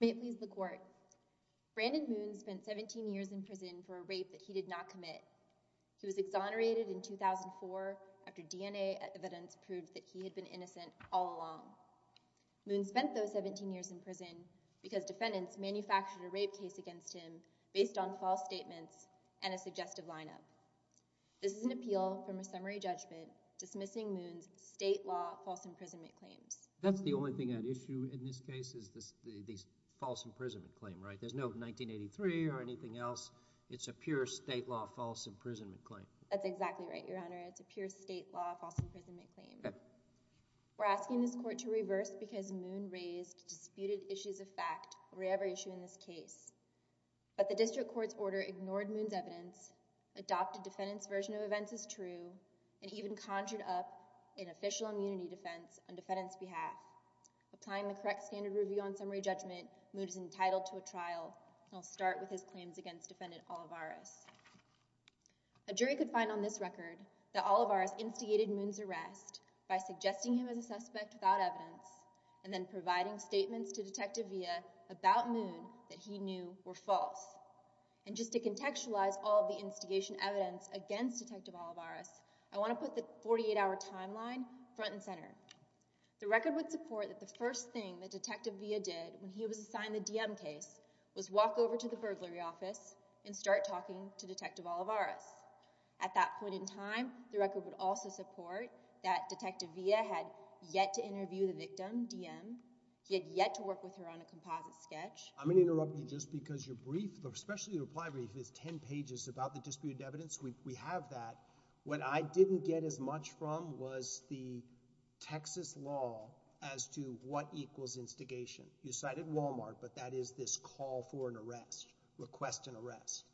May it please the court, Brandon Moon spent 17 years in prison for a rape that he did not commit. He was exonerated in 2004 after DNA evidence proved that he had been innocent all along. Moon spent those 17 years in prison because defendants manufactured a rape case against him based on false statements and a suggestive lineup. This is an appeal from a summary judgment dismissing Moon's state law false imprisonment claims. That's the only thing at issue in this case is this false imprisonment claim, right? There's no 1983 or anything else. It's a pure state law false imprisonment claim. That's exactly right, your honor. It's a pure state law false imprisonment claim. We're asking this court to reverse because Moon raised disputed issues of fact over every issue in this case. But the district court's order ignored Moon's evidence, adopted defendant's version of events as true, and even conjured up an official immunity defense on defendant's behalf. Applying the correct standard review on summary judgment, Moon is entitled to a trial. I'll start with his claims against defendant Olivarez. A jury could find on this record that Olivarez instigated Moon's arrest by suggesting him as a suspect without evidence and then providing statements to the jury. And just to contextualize all of the instigation evidence against Detective Olivarez, I want to put the 48-hour timeline front and center. The record would support that the first thing that Detective Villa did when he was assigned the DM case was walk over to the burglary office and start talking to Detective Olivarez. At that point in time, the record would also support that Detective Villa had yet to interview the victim, DM. He had yet to work with her on a composite sketch. I'm going to interrupt you just because your brief, especially your reply brief, is 10 pages about the disputed evidence. We have that. What I didn't get as much from was the Texas law as to what equals instigation. You cited Walmart, but that is this call for an arrest, request an arrest.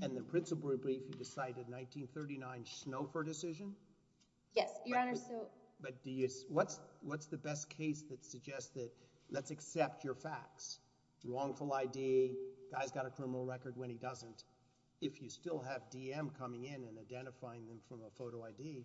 And the principal brief you cited, 1939, Schnaufer decision? Yes, Your Honor. But what's the best case that suggests that, let's accept your facts, wrongful ID, guy's got a criminal record when he doesn't. If you still have DM coming in and identifying them from a photo ID,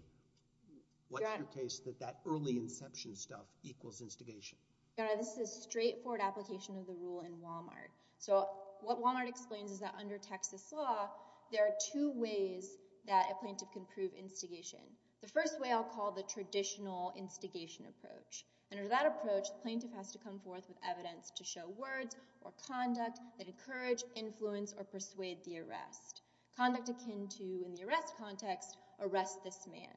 what's your case that that early inception stuff equals instigation? Your Honor, this is straightforward application of the rule in Walmart. So what Walmart explains is that under Texas law, there are two ways that a plaintiff can prove instigation. The first way I'll call the traditional instigation approach. And under that approach, the plaintiff has to come forth with evidence to show words or conduct that encourage, influence, or persuade the arrest. Conduct akin to, in the arrest context, arrest this man.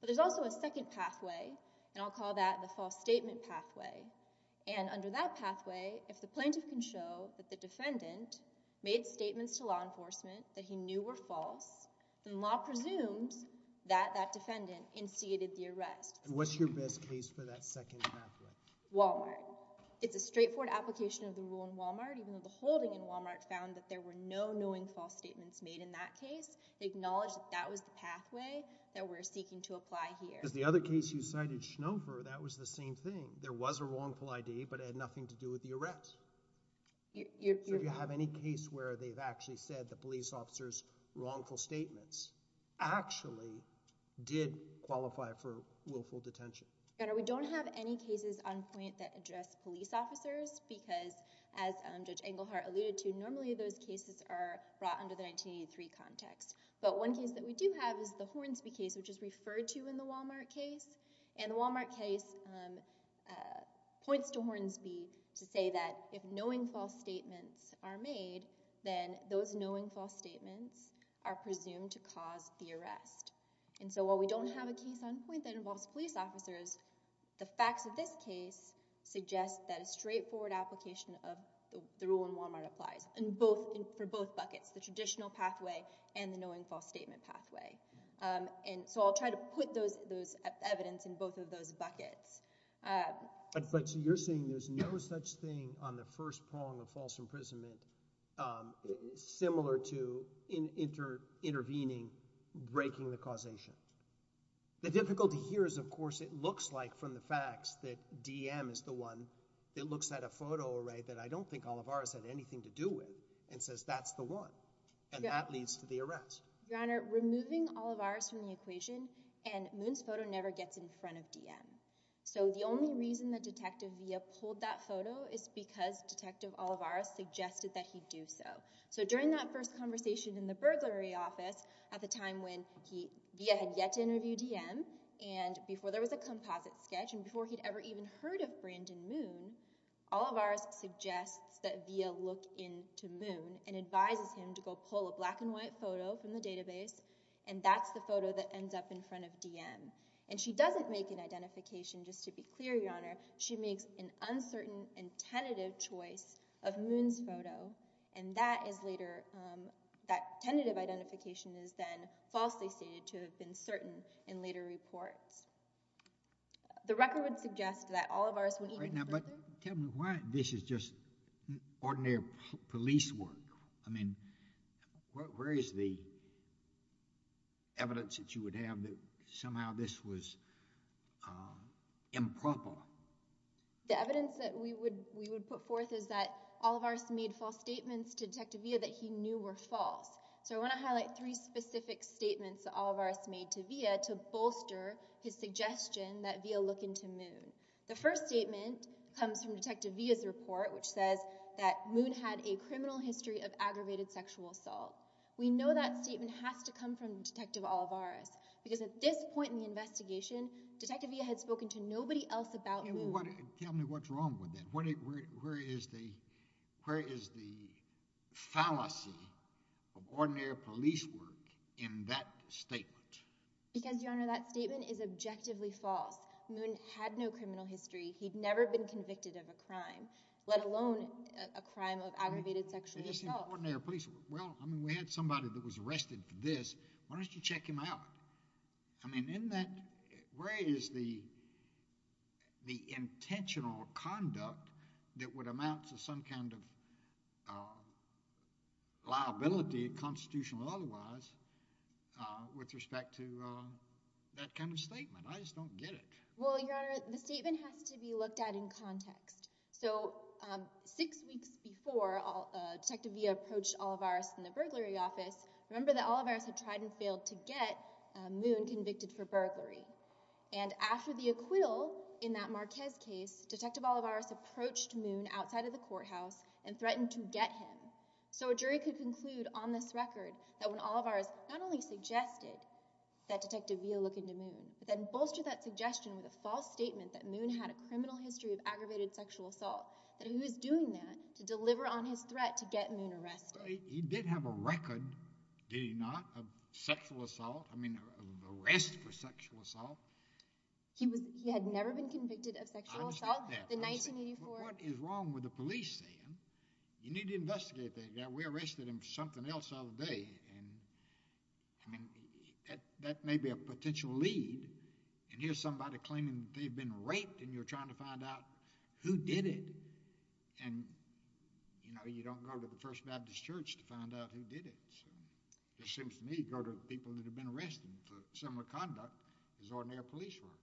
But there's also a second pathway, and I'll call that the false statement pathway. And under that pathway, if the plaintiff can show that the defendant made statements to law enforcement that he knew were false, then law presumes that that defendant instigated the arrest. And what's your best case for that second pathway? Walmart. It's a straightforward application of the rule in Walmart, even though the holding in Walmart found that there were no knowing false statements made in that case. They acknowledged that that was the pathway that we're seeking to apply here. Because the other case you cited, Schnaufer, that was the same thing. There was a wrongful ID, but it had nothing to do with the arrest. So if you have any case where they've actually said the police officer's wrongful statements actually did qualify for willful detention. Your Honor, we don't have any cases on point that address police officers, because as Judge Englehart alluded to, normally those cases are brought under the 1983 context. But one case that we do have is the Hornsby case, which is referred to in the Walmart case. And the Walmart case points to Hornsby to say that if knowing false statements are made, then those knowing false statements are presumed to cause the arrest. And so while we don't have a case on point that involves police officers, the facts of this case suggest that a straightforward application of the rule in Walmart applies for both buckets, the traditional pathway and the knowing false statement pathway. And so I'll try to put those evidence in both of those buckets. But so you're saying there's no such thing on the first prong of false imprisonment similar to intervening, breaking the causation. The difficulty here is, of course, it looks like from the facts that DM is the one that looks at a photo array that I don't think Olivares had anything to do with and says that's the one. And that leads to the arrest. Your Honor, removing Olivares from the equation and Moon's photo never gets in front of DM. So the only reason that Detective Villa pulled that photo is because Detective Olivares suggested that he do so. So during that first conversation in the burglary office at the time when he had yet to interview DM and before there was a composite sketch and before he'd ever even heard of Brandon Moon, Olivares suggests that Villa look into Moon and advises him to go pull a black and white photo from the database. And that's the photo that ends up in front of DM. And she doesn't make an identification, just to be clear, Your Honor. She makes an uncertain and tentative choice of Moon's photo. And that is later, that tentative identification is then falsely stated to have been certain in later reports. The record would suggest that Olivares wouldn't even further. But tell me why this is just ordinary police work. I mean, where is the evidence that you would have that somehow this was improper? The evidence that we would, we would put forth is that Olivares made false statements to Detective Villa that he knew were false. So I want to highlight three specific statements that Olivares made to Villa to bolster his suggestion that Villa look into Moon. The first statement comes from Detective Villa's report, which says that Moon had a criminal history of aggravated sexual assault. We know that statement has to come from Detective Olivares, because at this point in the investigation, Detective Villa had spoken to nobody else about Moon. Tell me what's wrong with it. Where is the, where is the fallacy of ordinary police work in that statement? Because, Your Honor, that statement is objectively false. Moon had no criminal history. He'd never been convicted of a crime, let alone a crime of aggravated sexual assault. Well, I mean, we had somebody that was arrested for this. Why don't you check him out? I mean, in that, where is the, the intentional conduct that would amount to some kind of liability, constitutional or otherwise, with respect to that kind of statement? I just don't get it. Well, Your Honor, the statement has to be looked at in context. So six weeks before Detective Villa approached Olivares in the burglary office, remember that Olivares had tried and failed to get Moon convicted for burglary. And after the acquittal in that Marquez case, Detective Olivares approached Moon outside of the courthouse and threatened to get him. So a jury could conclude on this record that when Olivares not only suggested that Detective Villa look into Moon, but then bolstered that suggestion with a false statement that Moon had a criminal history of aggravated sexual assault, that he was doing that to get Moon arrested. He did have a record, did he not, of sexual assault? I mean, of arrest for sexual assault. He was, he had never been convicted of sexual assault. I'm not that. In 1984. What is wrong with the police saying, you need to investigate that guy. We arrested him for something else the other day. And I mean, that may be a potential lead. And here's somebody claiming that they've been raped and you're trying to find out who did it. And, you know, you don't go to the First Baptist Church to find out who did it. So it seems to me, go to the people that have been arrested for similar conduct as ordinary police were.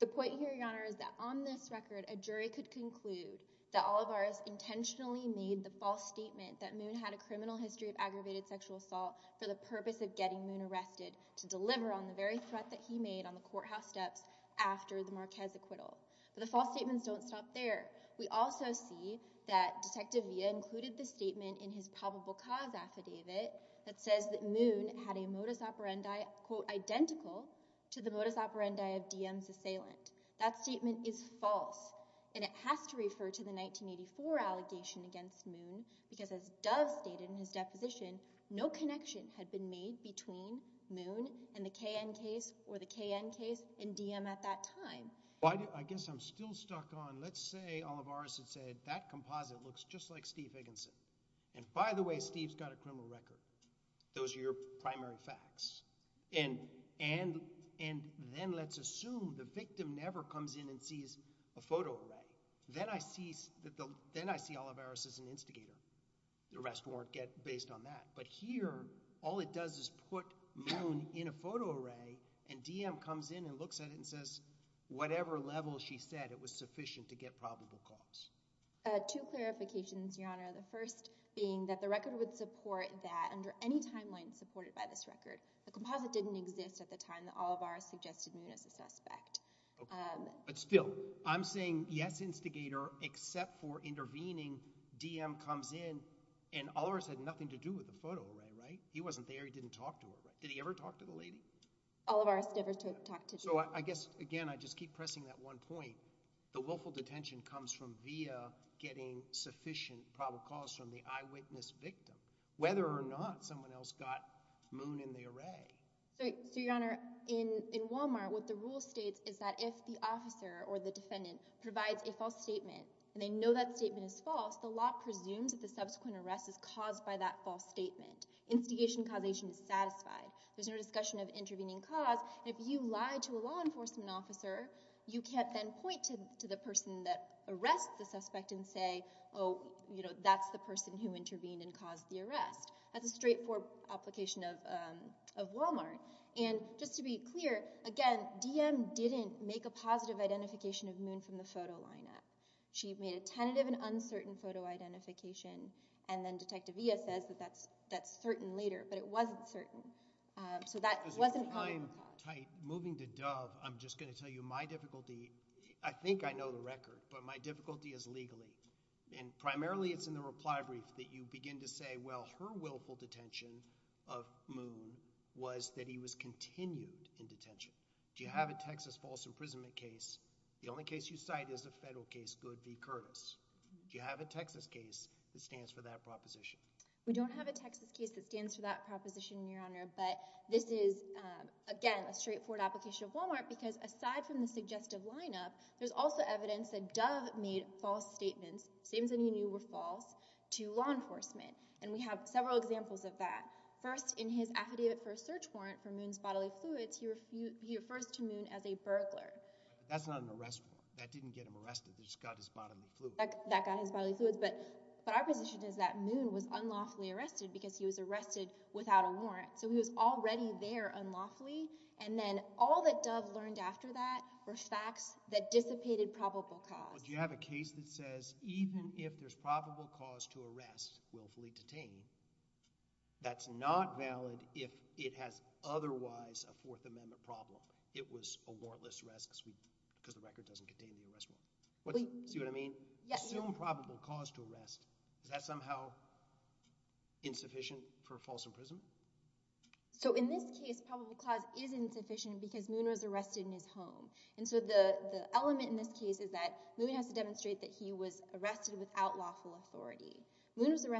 The point here, Your Honor, is that on this record, a jury could conclude that Olivares intentionally made the false statement that Moon had a criminal history of aggravated sexual assault for the purpose of getting Moon arrested to deliver on the very threat that he made on the courthouse steps after the Marquez acquittal. But the we also see that Detective Villa included the statement in his probable cause affidavit that says that Moon had a modus operandi, quote, identical to the modus operandi of DM's assailant. That statement is false and it has to refer to the 1984 allegation against Moon because as Dove stated in his deposition, no connection had been made between Moon and the KN case or the KN case and DM at that time. I guess I'm still stuck on, let's say Olivares had said, that composite looks just like Steve Higginson. And by the way, Steve's got a criminal record. Those are your primary facts. And then let's assume the victim never comes in and sees a photo array. Then I see Olivares as an instigator. The rest weren't based on that. But here, all it does is put Moon in a photo array and DM comes in and says whatever level she said it was sufficient to get probable cause. Two clarifications, Your Honor. The first being that the record would support that under any timeline supported by this record, the composite didn't exist at the time that Olivares suggested Moon as a suspect. But still, I'm saying yes, instigator, except for intervening, DM comes in and Olivares had nothing to do with the photo array, right? He wasn't there. He didn't talk to her, right? Did he ever talk to the lady? Olivares never talked to the lady. So I guess, again, I just keep pressing that one point. The willful detention comes from via getting sufficient probable cause from the eyewitness victim, whether or not someone else got Moon in the array. So, Your Honor, in Walmart, what the rule states is that if the officer or the defendant provides a false statement, and they know that statement is false, the law presumes that the subsequent arrest is caused by that false statement. Instigation causation is satisfied. There's no discussion of intervening cause, and if you lie to a law enforcement officer, you can't then point to the person that arrests the suspect and say, oh, you know, that's the person who intervened and caused the arrest. That's a straightforward application of Walmart. And just to be clear, again, DM didn't make a positive identification of Moon from the photo lineup. She made a tentative and uncertain photo identification, and then Detective Villa says that that's certain later, but it wasn't certain. So that wasn't probable cause. Moving to Dove, I'm just going to tell you my difficulty. I think I know the record, but my difficulty is legally. And primarily it's in the reply brief that you begin to say, well, her willful detention of Moon was that he was continued in detention. Do you have a Texas false imprisonment case? The only case you cite is a federal case, Goode v. Curtis. Do you have a Texas case that stands for that proposition? We don't have a Texas case that stands for that proposition, Your Honor, but this is, again, a straightforward application of Walmart because aside from the suggestive lineup, there's also evidence that Dove made false statements, statements that he knew were false, to law enforcement. And we have several examples of that. First, in his affidavit for a search warrant for Moon's bodily fluids, he refers to Moon as a burglar. That's not an arrest warrant. That didn't get him arrested. That just got his bodily fluids. That got his bodily fluids. But our position is that Moon was unlawfully arrested because he was arrested without a warrant. So he was already there unlawfully. And then all that Dove learned after that were facts that dissipated probable cause. Do you have a case that says even if there's probable cause to arrest willfully detained, that's not valid if it has otherwise a Fourth Amendment problem? It was a warrantless arrest because the record doesn't contain the arrest warrant. See what I mean? Assume probable cause to arrest. Is that somehow insufficient for false imprisonment? So in this case, probable cause is insufficient because Moon was arrested in his home. And so the element in this case is that Moon has to demonstrate that he was arrested without lawful authority. There's at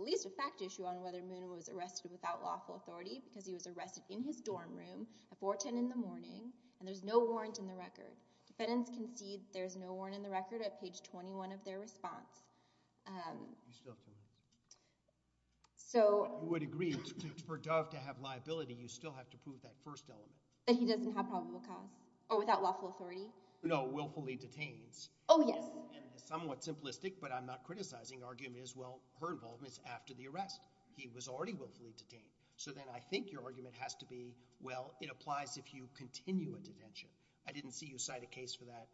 least a fact issue on whether Moon was arrested without lawful authority because he was arrested in his dorm room at 410 in the morning, and there's no warrant in the record. Defendants concede there's no warrant in the record at page 21 of their response. You still can't. You would agree, for Dove to have liability, you still have to prove that first element. That he doesn't have probable cause, or without lawful authority? No, willfully detains. Oh, yes. And somewhat simplistic, but I'm not criticizing, argument is, well, her involvement is after the arrest. He was already willfully detained. So then I think your argument has to be, well, it applies if you continue a detention. I didn't see you cite a case for that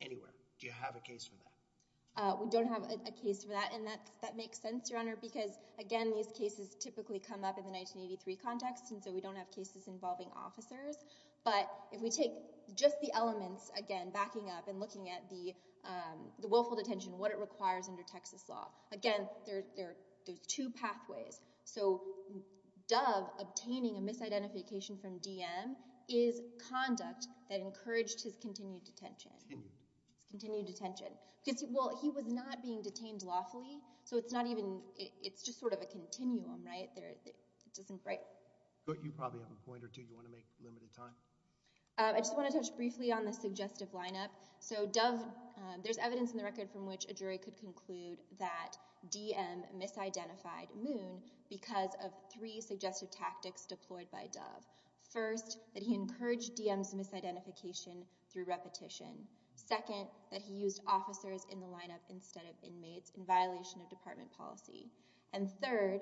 anywhere. Do you have a case for that? We don't have a case for that, and that makes sense, Your Honor, because, again, these cases typically come up in the 1983 context, and so we don't have cases involving officers. But if we take just the elements, again, backing up and looking at the willful detention, what it requires under Texas law, again, there's two pathways. So Dove obtaining a misidentification from DM is conduct that encouraged his continued detention. Continued. His continued detention. Because, well, he was not being detained lawfully, so it's not even, it's just sort of a continuum, right? But you probably have a point or two. Do you want to make limited time? I just want to touch briefly on the suggestive lineup. So Dove, there's evidence in the record from which a jury could conclude that DM misidentified Moon because of three suggestive tactics deployed by Dove. First, that he encouraged DM's misidentification through repetition. Second, that he used officers in the lineup instead of inmates in violation of department policy. And third,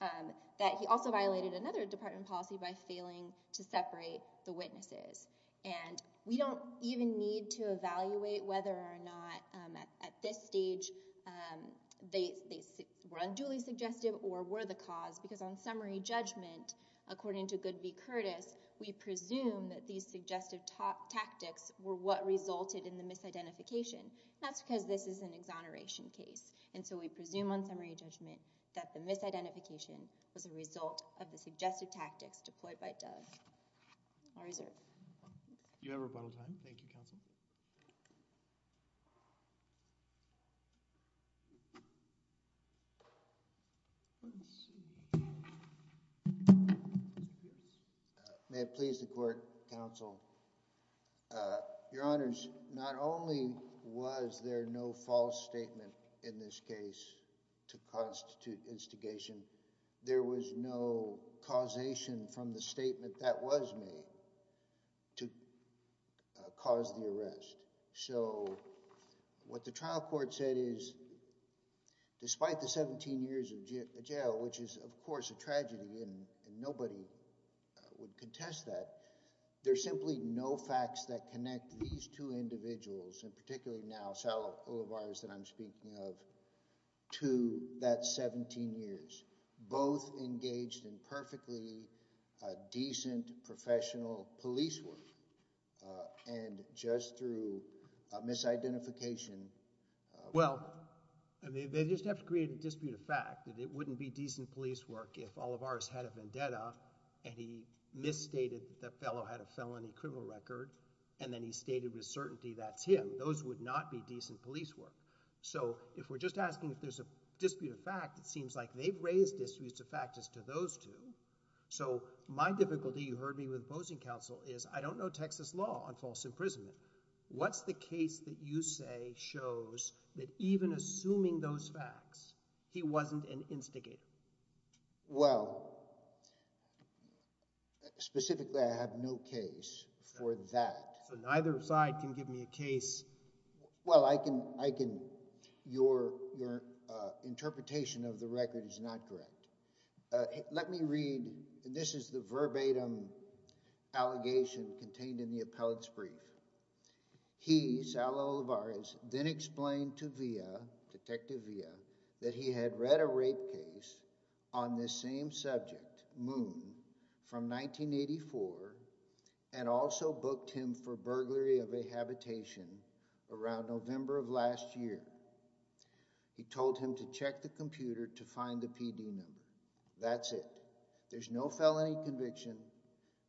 that he also violated another department policy by failing to separate the witnesses. And we don't even need to evaluate whether or not at this stage they were unduly suggestive or were the cause, because on summary judgment, according to Goodby-Curtis, we presume that these suggestive tactics were what resulted in the misidentification. That's because this is an exoneration case. And so we presume on summary judgment that the misidentification was a result of the suggestive tactics deployed by Dove. I'll reserve. You have rebuttal time. Thank you, counsel. May it please the court, counsel. Your Honors, not only was there no false statement in this case to constitute instigation, there was no causation from the statement that was made to cause the arrest. So what the trial court said is, despite the 17 years of jail, which is, of course, a tragedy, and nobody would contest that, there's simply no facts that connect these two individuals, and particularly now Sal Olivarez that I'm speaking of, to that 17 years. Both engaged in perfectly decent professional police work, and just through misidentification. Well, they just have to create a dispute of fact that it wouldn't be decent police work if Olivarez had a vendetta and he misstated that the fellow had a felony criminal record, and then he stated with certainty that's him. Those would not be decent police work. So if we're just asking if there's a dispute of fact, it seems like they've raised disputes of fact as to those two. So my difficulty, you heard me with opposing counsel, is I don't know Texas law on false imprisonment. What's the case that you say shows that even assuming those facts, he wasn't an instigator? Well, specifically I have no case for that. So neither side can give me a case. Well, I can, your interpretation of the record is not correct. Let me read, this is the verbatim allegation contained in the appellate's brief. He, Sal Olivarez, then explained to Villa, Detective Villa, that he had read a rape case on this same subject, Moon, from 1984, and also booked him for burglary of a habitation around November of last year. He told him to check the computer to find the PD number. That's it. There's no felony conviction.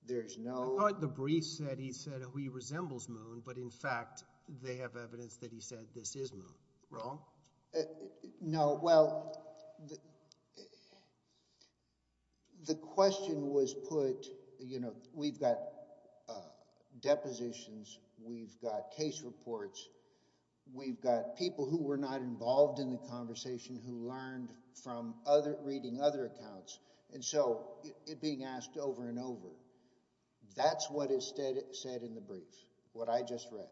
There's no... I thought the brief said he said he resembles Moon, but in fact they have evidence that he said this is Moon. Wrong? No, well, the question was put, you know, we've got depositions, we've got case reports, we've got people who were not involved in the conversation who learned from reading other accounts, and so it being asked over and over, that's what is said in the brief, what I just read.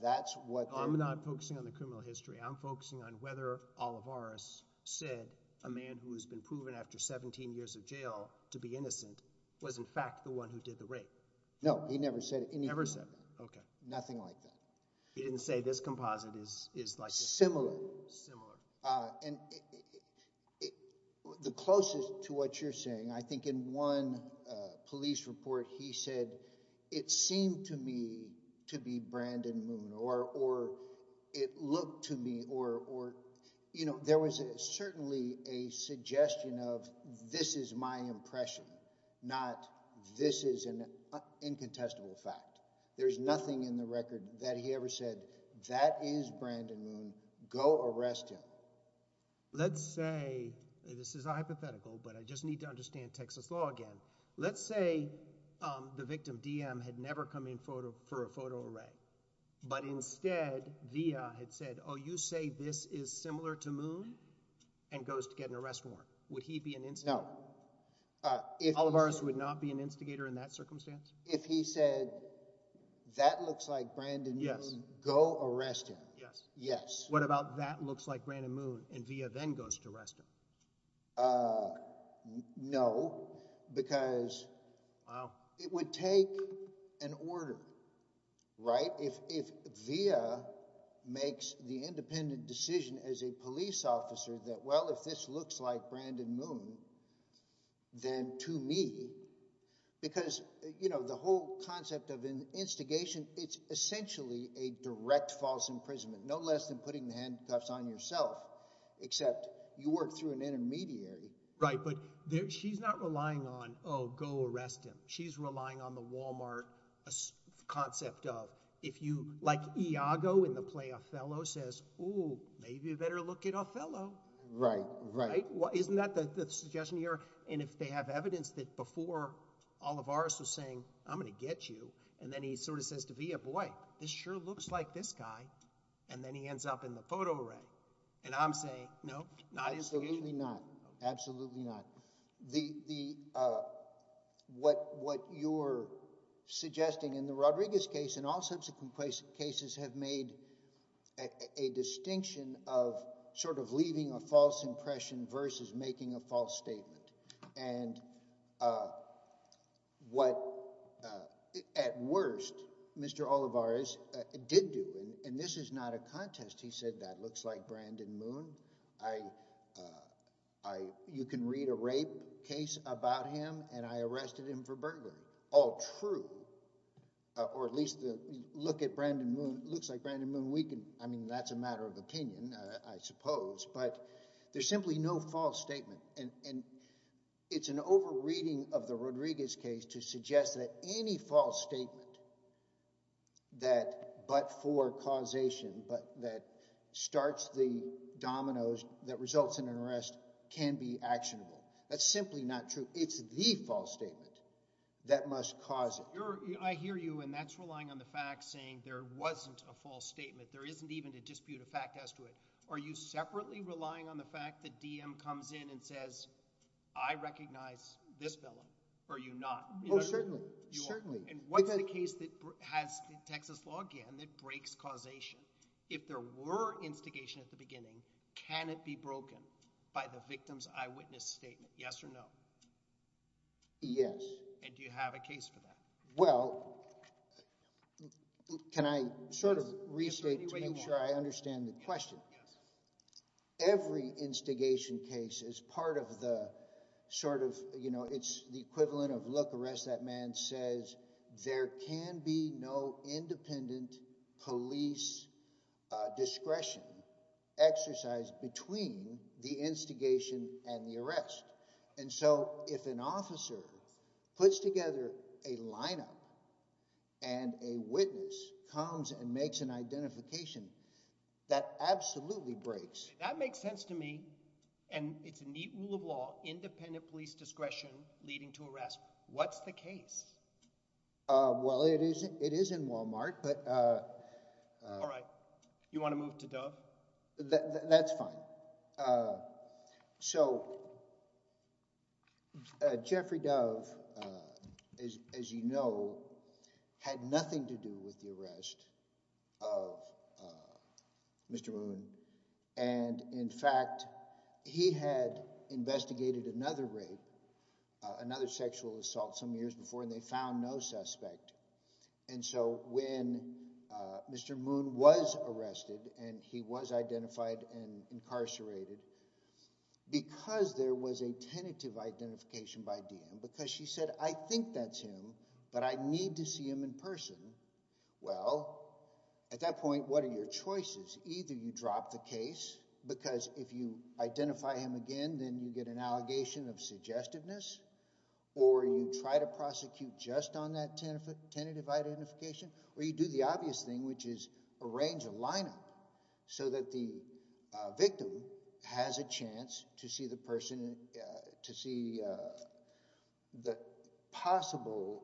That's what... I'm not focusing on the criminal history. I'm focusing on whether Olivarez said a man who has been proven after 17 years of jail to be innocent was in fact the one who did the rape. No, he never said any of that. Never said that, okay. Nothing like that. He didn't say this composite is like... Similar. Similar. And the closest to what you're saying, I think in one police report he said, it seemed to me to be Brandon Moon, or it looked to me, or, you know, there was certainly a suggestion of this is my impression, not this is an incontestable fact. There's nothing in the record that he ever said, that is Brandon Moon, go arrest him. Let's say, this is a hypothetical, but I just need to understand Texas law again. Let's say the victim, DM, had never come in for a photo array, but instead, Via had said, oh, you say this is similar to Moon, and goes to get an arrest warrant. Would he be an instigator? No. Olivarez would not be an instigator in that circumstance? If he said, that looks like Brandon Moon, go arrest him. Yes. Yes. What about that looks like Brandon Moon, and Via then goes to arrest him? No, because it would take an order, right? If Via makes the independent decision as a police officer that, well, if this looks like Brandon Moon, then to me, because, you know, the whole concept of an instigation, it's essentially a direct false imprisonment. No less than putting the handcuffs on yourself, except you work through an intermediary. Right, but she's not relying on, oh, go arrest him. She's relying on the Walmart concept of, if you, like Iago in the play Othello says, oh, maybe you better look at Othello. Right. Right. Isn't that the suggestion here? And if they have evidence that before Olivarez was saying, I'm going to get you, and then he sort of says to Via, boy, this sure looks like this guy, and then he ends up in the photo array. And I'm saying, no, not an instigation. Absolutely not. Absolutely not. What you're suggesting in the Rodriguez case and all subsequent cases have made a distinction of sort of leaving a false impression versus making a false statement. And what, at worst, Mr. Olivarez did do, and this is not a contest, he said, that looks like Brandon Moon. You can read a rape case about him, and I arrested him for burglary. All true. Or at least look at Brandon Moon. It looks like Brandon Moon. I mean, that's a matter of opinion, I suppose, but there's simply no false statement. And it's an over-reading of the Rodriguez case to suggest that any false statement that but for causation, but that starts the dominoes that results in an arrest, can be actionable. That's simply not true. It's the false statement that must cause it. I hear you, and that's relying on the fact saying there wasn't a false statement. There isn't even a dispute of fact as to it. Are you separately relying on the fact that DM comes in and says, I recognize this felon, or are you not? Oh, certainly. And what's the case that has Texas law again that breaks causation? If there were instigation at the beginning, can it be broken by the victim's eyewitness statement, yes or no? Yes. And do you have a case for that? Well, can I sort of restate to make sure I understand the question? Every instigation case is part of the sort of, you know, it's the equivalent of, look, arrest that man says. There can be no independent police discretion exercised between the instigation and the arrest. And so if an officer puts together a lineup and a witness comes and makes an identification, that absolutely breaks. That makes sense to me. And it's a neat rule of law, independent police discretion leading to arrest. What's the case? Well, it is in Wal-Mart. All right. You want to move to Dove? That's fine. So Jeffrey Dove, as you know, had nothing to do with the arrest of Mr. Moon. And, in fact, he had investigated another rape, another sexual assault some years before, and they found no suspect. And so when Mr. Moon was arrested and he was identified and incarcerated, because there was a tentative identification by Diem, because she said, I think that's him, but I need to see him in person, well, at that point, what are your choices? Either you drop the case because if you identify him again, then you get an allegation of suggestiveness, or you try to prosecute just on that tentative identification, or you do the obvious thing, which is arrange a lineup so that the victim has a chance to see the person – to see the possible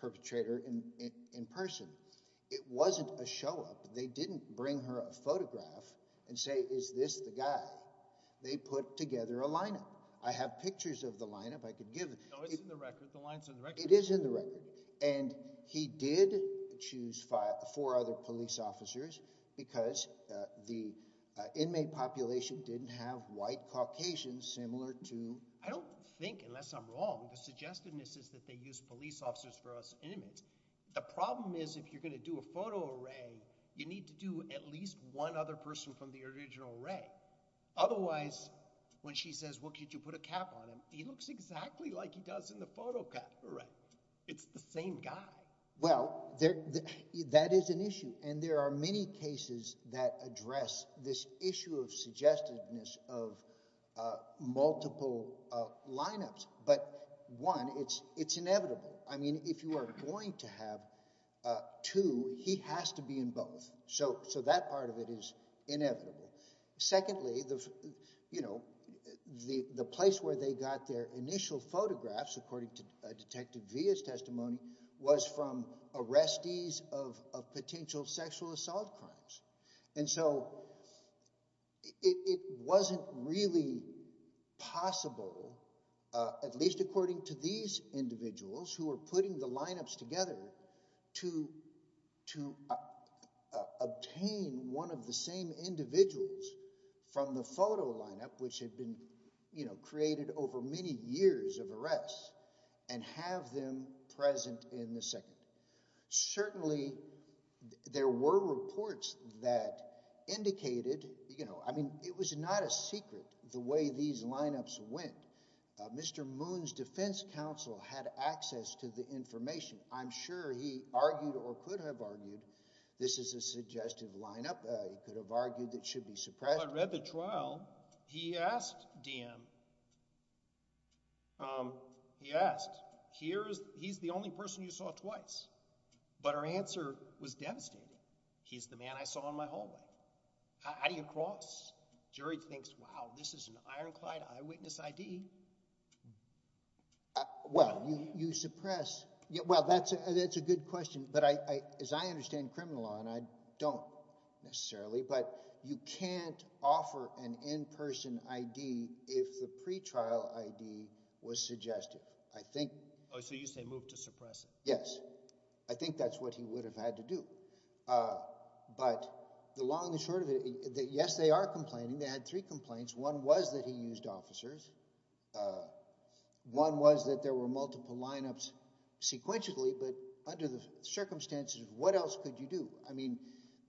perpetrator in person. It wasn't a show-up. They didn't bring her a photograph and say, is this the guy? They put together a lineup. I have pictures of the lineup I could give. No, it's in the record. The line's in the record. It is in the record. And he did choose four other police officers because the inmate population didn't have white Caucasians similar to – I don't think, unless I'm wrong, the suggestiveness is that they used police officers for us inmates. The problem is if you're going to do a photo array, you need to do at least one other person from the original array. Otherwise, when she says, well, could you put a cap on him? He looks exactly like he does in the photo array. It's the same guy. Well, that is an issue, and there are many cases that address this issue of suggestiveness of multiple lineups. But one, it's inevitable. I mean if you are going to have two, he has to be in both. So that part of it is inevitable. Secondly, the place where they got their initial photographs, according to Detective Villa's testimony, was from arrestees of potential sexual assault crimes. And so it wasn't really possible, at least according to these individuals who are putting the lineups together, to obtain one of the same individuals from the photo lineup which had been created over many years of arrests and have them present in the second. Certainly, there were reports that indicated, you know, I mean it was not a secret the way these lineups went. Mr. Moon's defense counsel had access to the information. I'm sure he argued or could have argued this is a suggestive lineup. He could have argued it should be suppressed. Well, I read the trial. He asked DM, he asked, he's the only person you saw twice. But her answer was devastating. He's the man I saw in my hallway. How do you cross? Jury thinks, wow, this is an ironclad eyewitness ID. Well, you suppress – well, that's a good question. But as I understand criminal law, and I don't necessarily, but you can't offer an in-person ID if the pretrial ID was suggestive. I think – Oh, so you say move to suppress it. Yes. I think that's what he would have had to do. But the long and short of it, yes, they are complaining. They had three complaints. One was that he used officers. One was that there were multiple lineups sequentially. But under the circumstances, what else could you do? I mean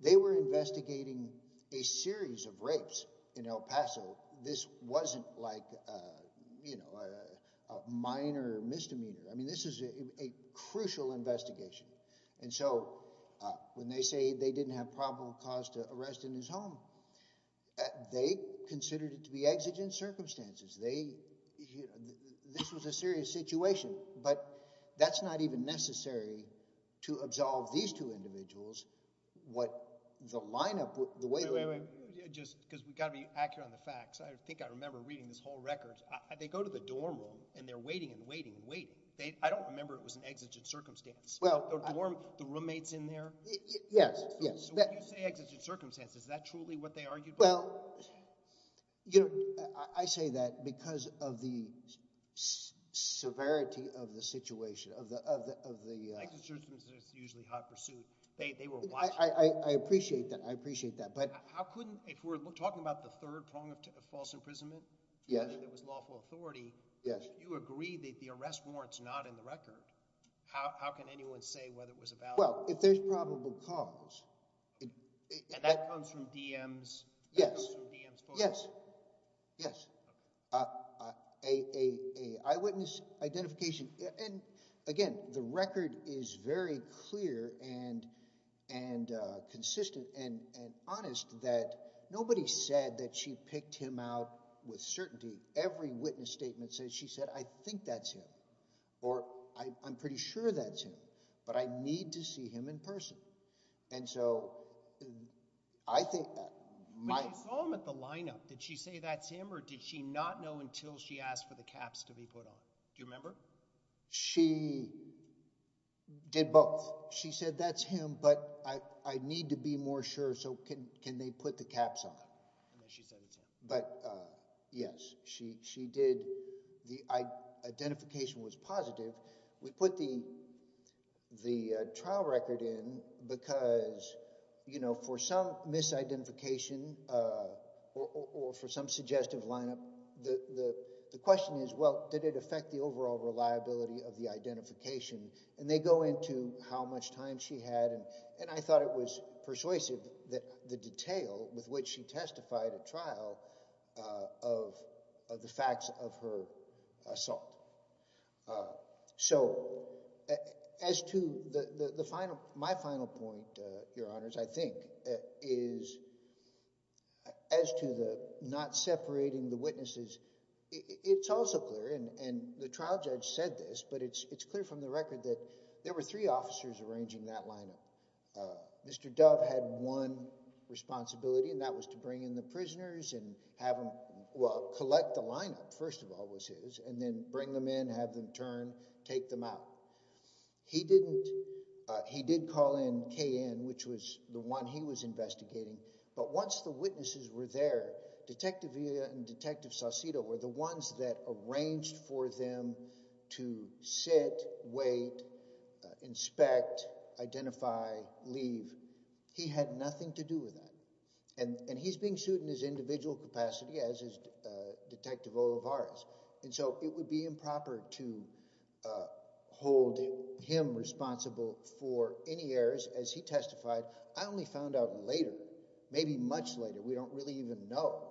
they were investigating a series of rapes in El Paso. This wasn't like a minor misdemeanor. I mean this is a crucial investigation. And so when they say they didn't have probable cause to arrest in his home, they considered it to be exigent circumstances. They – this was a serious situation. But that's not even necessary to absolve these two individuals what the lineup – the way – Wait, wait, wait. Just because we've got to be accurate on the facts. I think I remember reading this whole record. They go to the dorm room and they're waiting and waiting and waiting. I don't remember it was an exigent circumstance. Well, I – The roommates in there? Yes, yes. So when you say exigent circumstances, is that truly what they argued about? Well, you know, I say that because of the severity of the situation, of the – Exigent circumstances is usually hot pursuit. They were watching. I appreciate that. I appreciate that. But how couldn't – if we're talking about the third prong of false imprisonment? Yes. I think that was lawful authority. Yes. You agreed that the arrest warrant's not in the record. How can anyone say whether it was about – Well, if there's probable cause – And that comes from DM's – Yes. That comes from DM's phone? Yes. Yes. Okay. An eyewitness identification – and, again, the record is very clear and consistent and honest that nobody said that she picked him out with certainty. Every witness statement says she said, I think that's him or I'm pretty sure that's him. But I need to see him in person. And so I think – But you saw him at the lineup. Did she say that's him or did she not know until she asked for the caps to be put on? Do you remember? She did both. She said that's him, but I need to be more sure so can they put the caps on? And then she said it's him. But, yes, she did. The identification was positive. We put the trial record in because, you know, for some misidentification or for some suggestive lineup, the question is, well, did it affect the overall reliability of the identification? And they go into how much time she had. And I thought it was persuasive that the detail with which she testified at trial of the facts of her assault. So as to the final – my final point, Your Honors, I think, is as to the not separating the witnesses, it's also clear, and the trial judge said this, but it's clear from the record that there were three officers arranging that lineup. Mr. Dove had one responsibility, and that was to bring in the prisoners and have them, well, collect the lineup, first of all, was his, and then bring them in, have them turn, take them out. He didn't – he did call in Cayenne, which was the one he was investigating, but once the witnesses were there, Detective Villa and Detective Saucedo were the ones that arranged for them to sit, wait, inspect, identify, leave. He had nothing to do with that. And he's being sued in his individual capacity as is Detective Olivares. And so it would be improper to hold him responsible for any errors. As he testified, I only found out later, maybe much later, we don't really even know,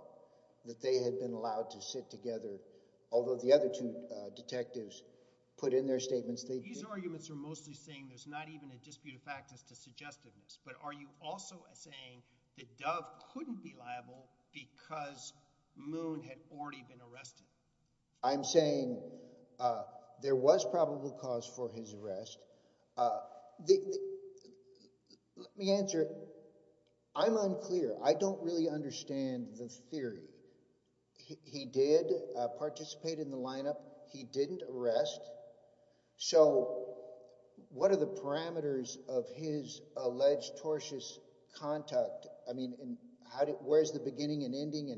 that they had been allowed to sit together, although the other two detectives put in their statements they did. These arguments are mostly saying there's not even a dispute of fact as to suggestiveness, but are you also saying that Dove couldn't be liable because Moon had already been arrested? I'm saying there was probable cause for his arrest. The – let me answer. I'm unclear. I don't really understand the theory. He did participate in the lineup. He didn't arrest. So what are the parameters of his alleged tortious conduct? I mean, where's the beginning and ending,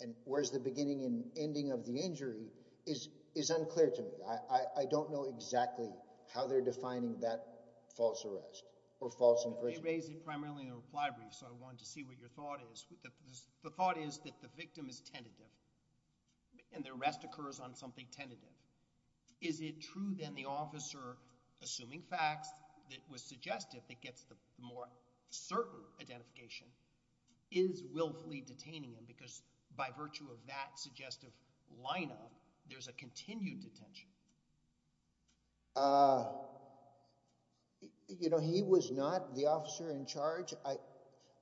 and where's the beginning and ending of the injury is unclear to me. I don't know exactly how they're defining that false arrest or false imprisonment. You raised it primarily in the reply brief, so I wanted to see what your thought is. The thought is that the victim is tentative, and the arrest occurs on something tentative. Is it true, then, the officer assuming facts that was suggestive that gets the more certain identification is willfully detaining him because by virtue of that suggestive lineup, there's a continued detention? He was not the officer in charge.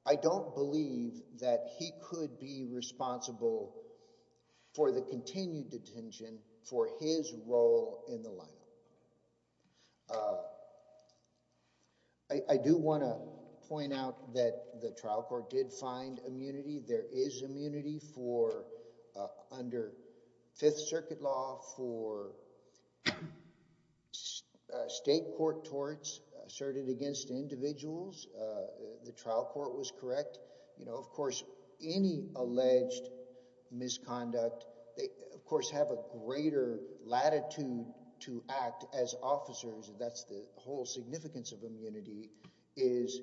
I don't believe that he could be responsible for the continued detention for his role in the lineup. I do want to point out that the trial court did find immunity. There is immunity under Fifth Circuit law for state court torts asserted against individuals. The trial court was correct. Of course, any alleged misconduct, they, of course, have a greater latitude to act as officers. That's the whole significance of immunity is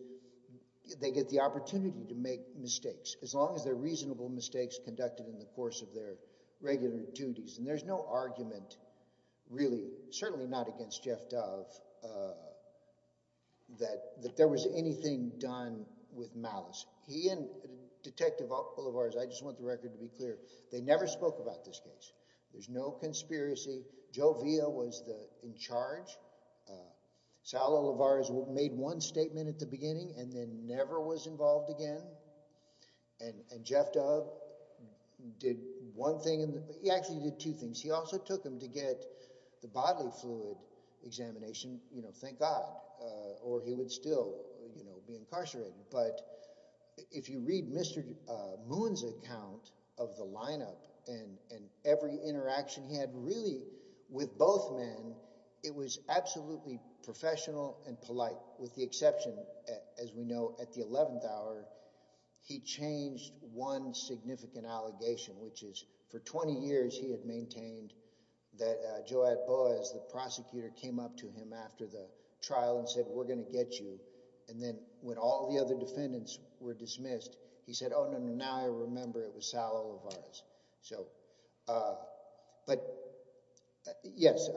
they get the opportunity to make mistakes. As long as they're reasonable mistakes conducted in the course of their regular duties, and there's no argument really, certainly not against Jeff Dove, that there was anything done with malice. He and Detective Olivares, I just want the record to be clear, they never spoke about this case. There's no conspiracy. Joe Villa was in charge. Sal Olivares made one statement at the beginning and then never was involved again. And Jeff Dove did one thing. He actually did two things. He also took him to get the bodily fluid examination, thank God, or he would still be incarcerated. But if you read Mr. Moon's account of the lineup and every interaction he had really with both men, it was absolutely professional and polite, with the exception, as we know, at the 11th hour, he changed one significant allegation, which is for 20 years he had maintained that Joe Atboas, the prosecutor, came up to him after the trial and said, we're going to get you. And then when all the other defendants were dismissed, he said, oh, no, no, now I remember it was Sal Olivares. But yes,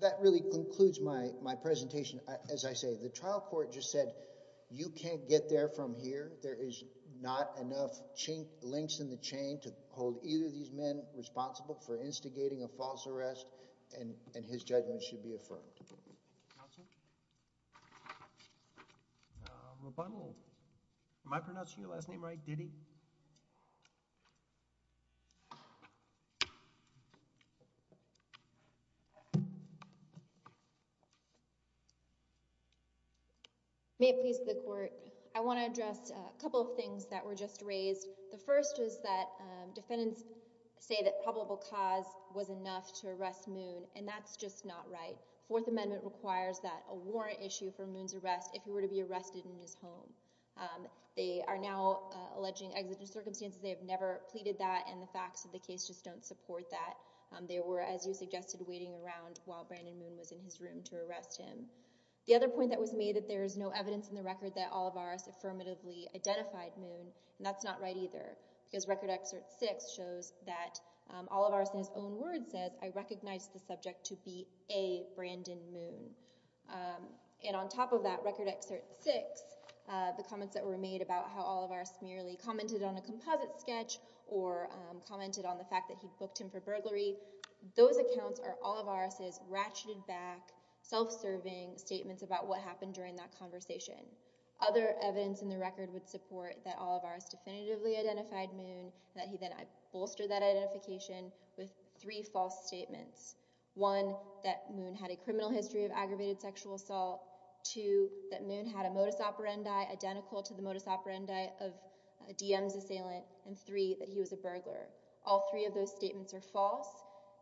that really concludes my presentation. As I say, the trial court just said you can't get there from here. There is not enough links in the chain to hold either of these men responsible for instigating a false arrest, and his judgment should be affirmed. Counsel? Rebuttal. Am I pronouncing your last name right, Diddy? May it please the court. I want to address a couple of things that were just raised. The first is that defendants say that probable cause was enough to arrest Moon, and that's just not right. Fourth Amendment requires that a warrant issue for Moon's arrest if he were to be arrested in his home. They are now alleging exigent circumstances. They have never pleaded that, and the facts of the case just don't support that. They were, as you suggested, waiting around while Brandon Moon was in his room to arrest him. The other point that was made, that there is no evidence in the record that Olivares affirmatively identified Moon, and that's not right either, because Record Excerpt 6 shows that Olivares, in his own words, says, I recognize the subject to be a Brandon Moon. And on top of that, Record Excerpt 6, the comments that were made about how Olivares merely commented on a composite sketch, or commented on the fact that he booked him for burglary, those accounts are Olivares' ratcheted back, self-serving statements about what happened during that conversation. Other evidence in the record would support that Olivares definitively identified Moon, and that he then bolstered that identification with three false statements. One, that Moon had a criminal history of aggravated sexual assault. Two, that Moon had a modus operandi identical to the modus operandi of a DM's assailant. And three, that he was a burglar. All three of those statements are false,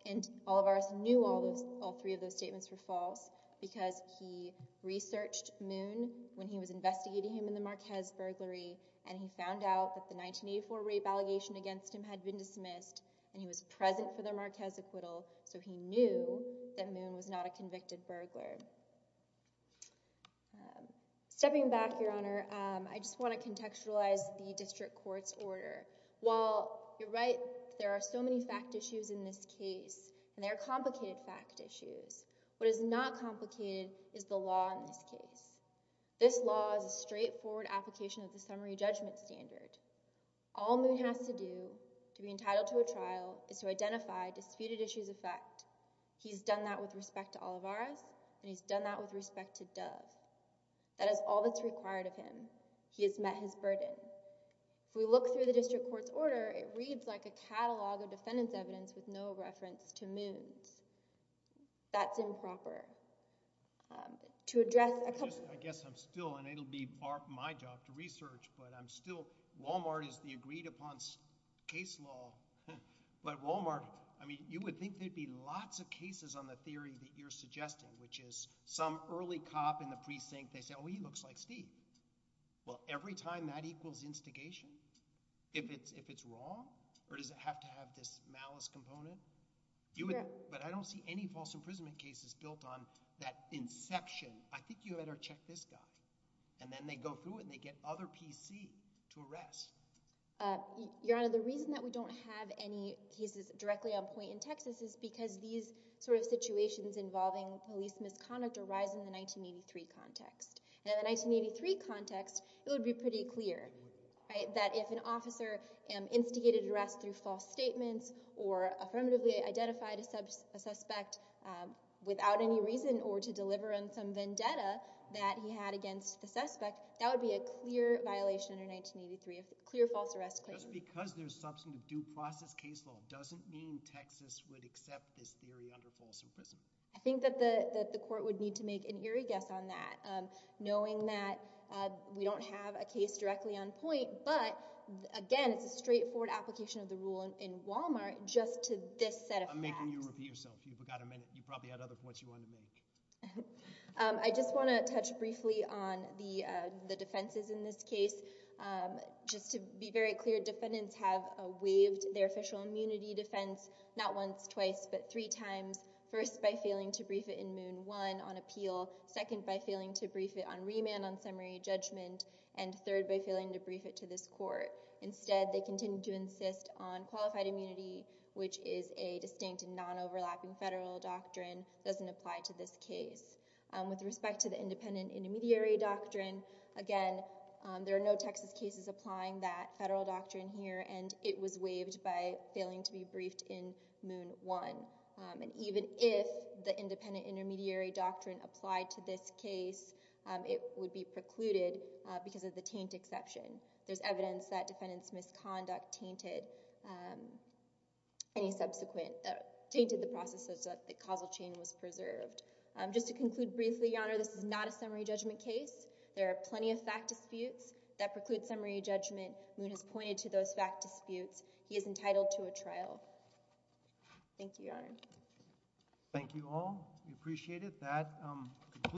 and Olivares knew all three of those statements were false, because he researched Moon when he was investigating him in the Marquez burglary, and he found out that the 1984 rape allegation against him had been dismissed, and he was present for the Marquez acquittal, so he knew that Moon was not a convicted burglar. Stepping back, Your Honor, I just want to contextualize the district court's order. While you're right, there are so many fact issues in this case, and they are complicated fact issues, what is not complicated is the law in this case. This law is a straightforward application of the summary judgment standard. All Moon has to do to be entitled to a trial is to identify disputed issues of fact. He's done that with respect to Olivares, and he's done that with respect to Dove. That is all that's required of him. He has met his burden. If we look through the district court's order, it reads like a catalog of defendant's evidence with no reference to Moon's. That's improper. I guess I'm still – and it will be my job to research, but I'm still – Walmart is the agreed-upon case law, but Walmart – I mean you would think there would be lots of cases on the theory that you're suggesting, which is some early cop in the precinct, they say, oh, he looks like Steve. Well, every time that equals instigation, if it's wrong, or does it have to have this malice component? But I don't see any false imprisonment cases built on that inception. I think you better check this guy. And then they go through it and they get other PC to arrest. Your Honor, the reason that we don't have any cases directly on point in Texas is because these sort of situations involving police misconduct arise in the 1983 context. And in the 1983 context, it would be pretty clear that if an officer instigated arrest through false statements or affirmatively identified a suspect without any reason or to deliver on some vendetta that he had against the suspect, that would be a clear violation under 1983, a clear false arrest claim. Just because there's substantive due process case law doesn't mean Texas would accept this theory under false imprisonment. I think that the court would need to make an eerie guess on that, knowing that we don't have a case directly on point, but, again, it's a straightforward application of the rule in Wal-Mart just to this set of facts. I'm making you repeat yourself. You've got a minute. You probably had other points you wanted to make. I just want to touch briefly on the defenses in this case. Just to be very clear, defendants have waived their official immunity defense not once, twice, but three times, first by failing to brief it in Moon One on appeal, second by failing to brief it on remand on summary judgment, and third by failing to brief it to this court. Instead, they continue to insist on qualified immunity, which is a distinct and non-overlapping federal doctrine, doesn't apply to this case. With respect to the independent intermediary doctrine, again, there are no Texas cases applying that federal doctrine here, and it was waived by failing to be briefed in Moon One. Even if the independent intermediary doctrine applied to this case, it would be precluded because of the taint exception. There's evidence that defendants' misconduct tainted the process so that the causal chain was preserved. Just to conclude briefly, Your Honor, this is not a summary judgment case. There are plenty of fact disputes that preclude summary judgment. Moon has pointed to those fact disputes. He is entitled to a trial. Thank you, Your Honor. Thank you all. We appreciate it.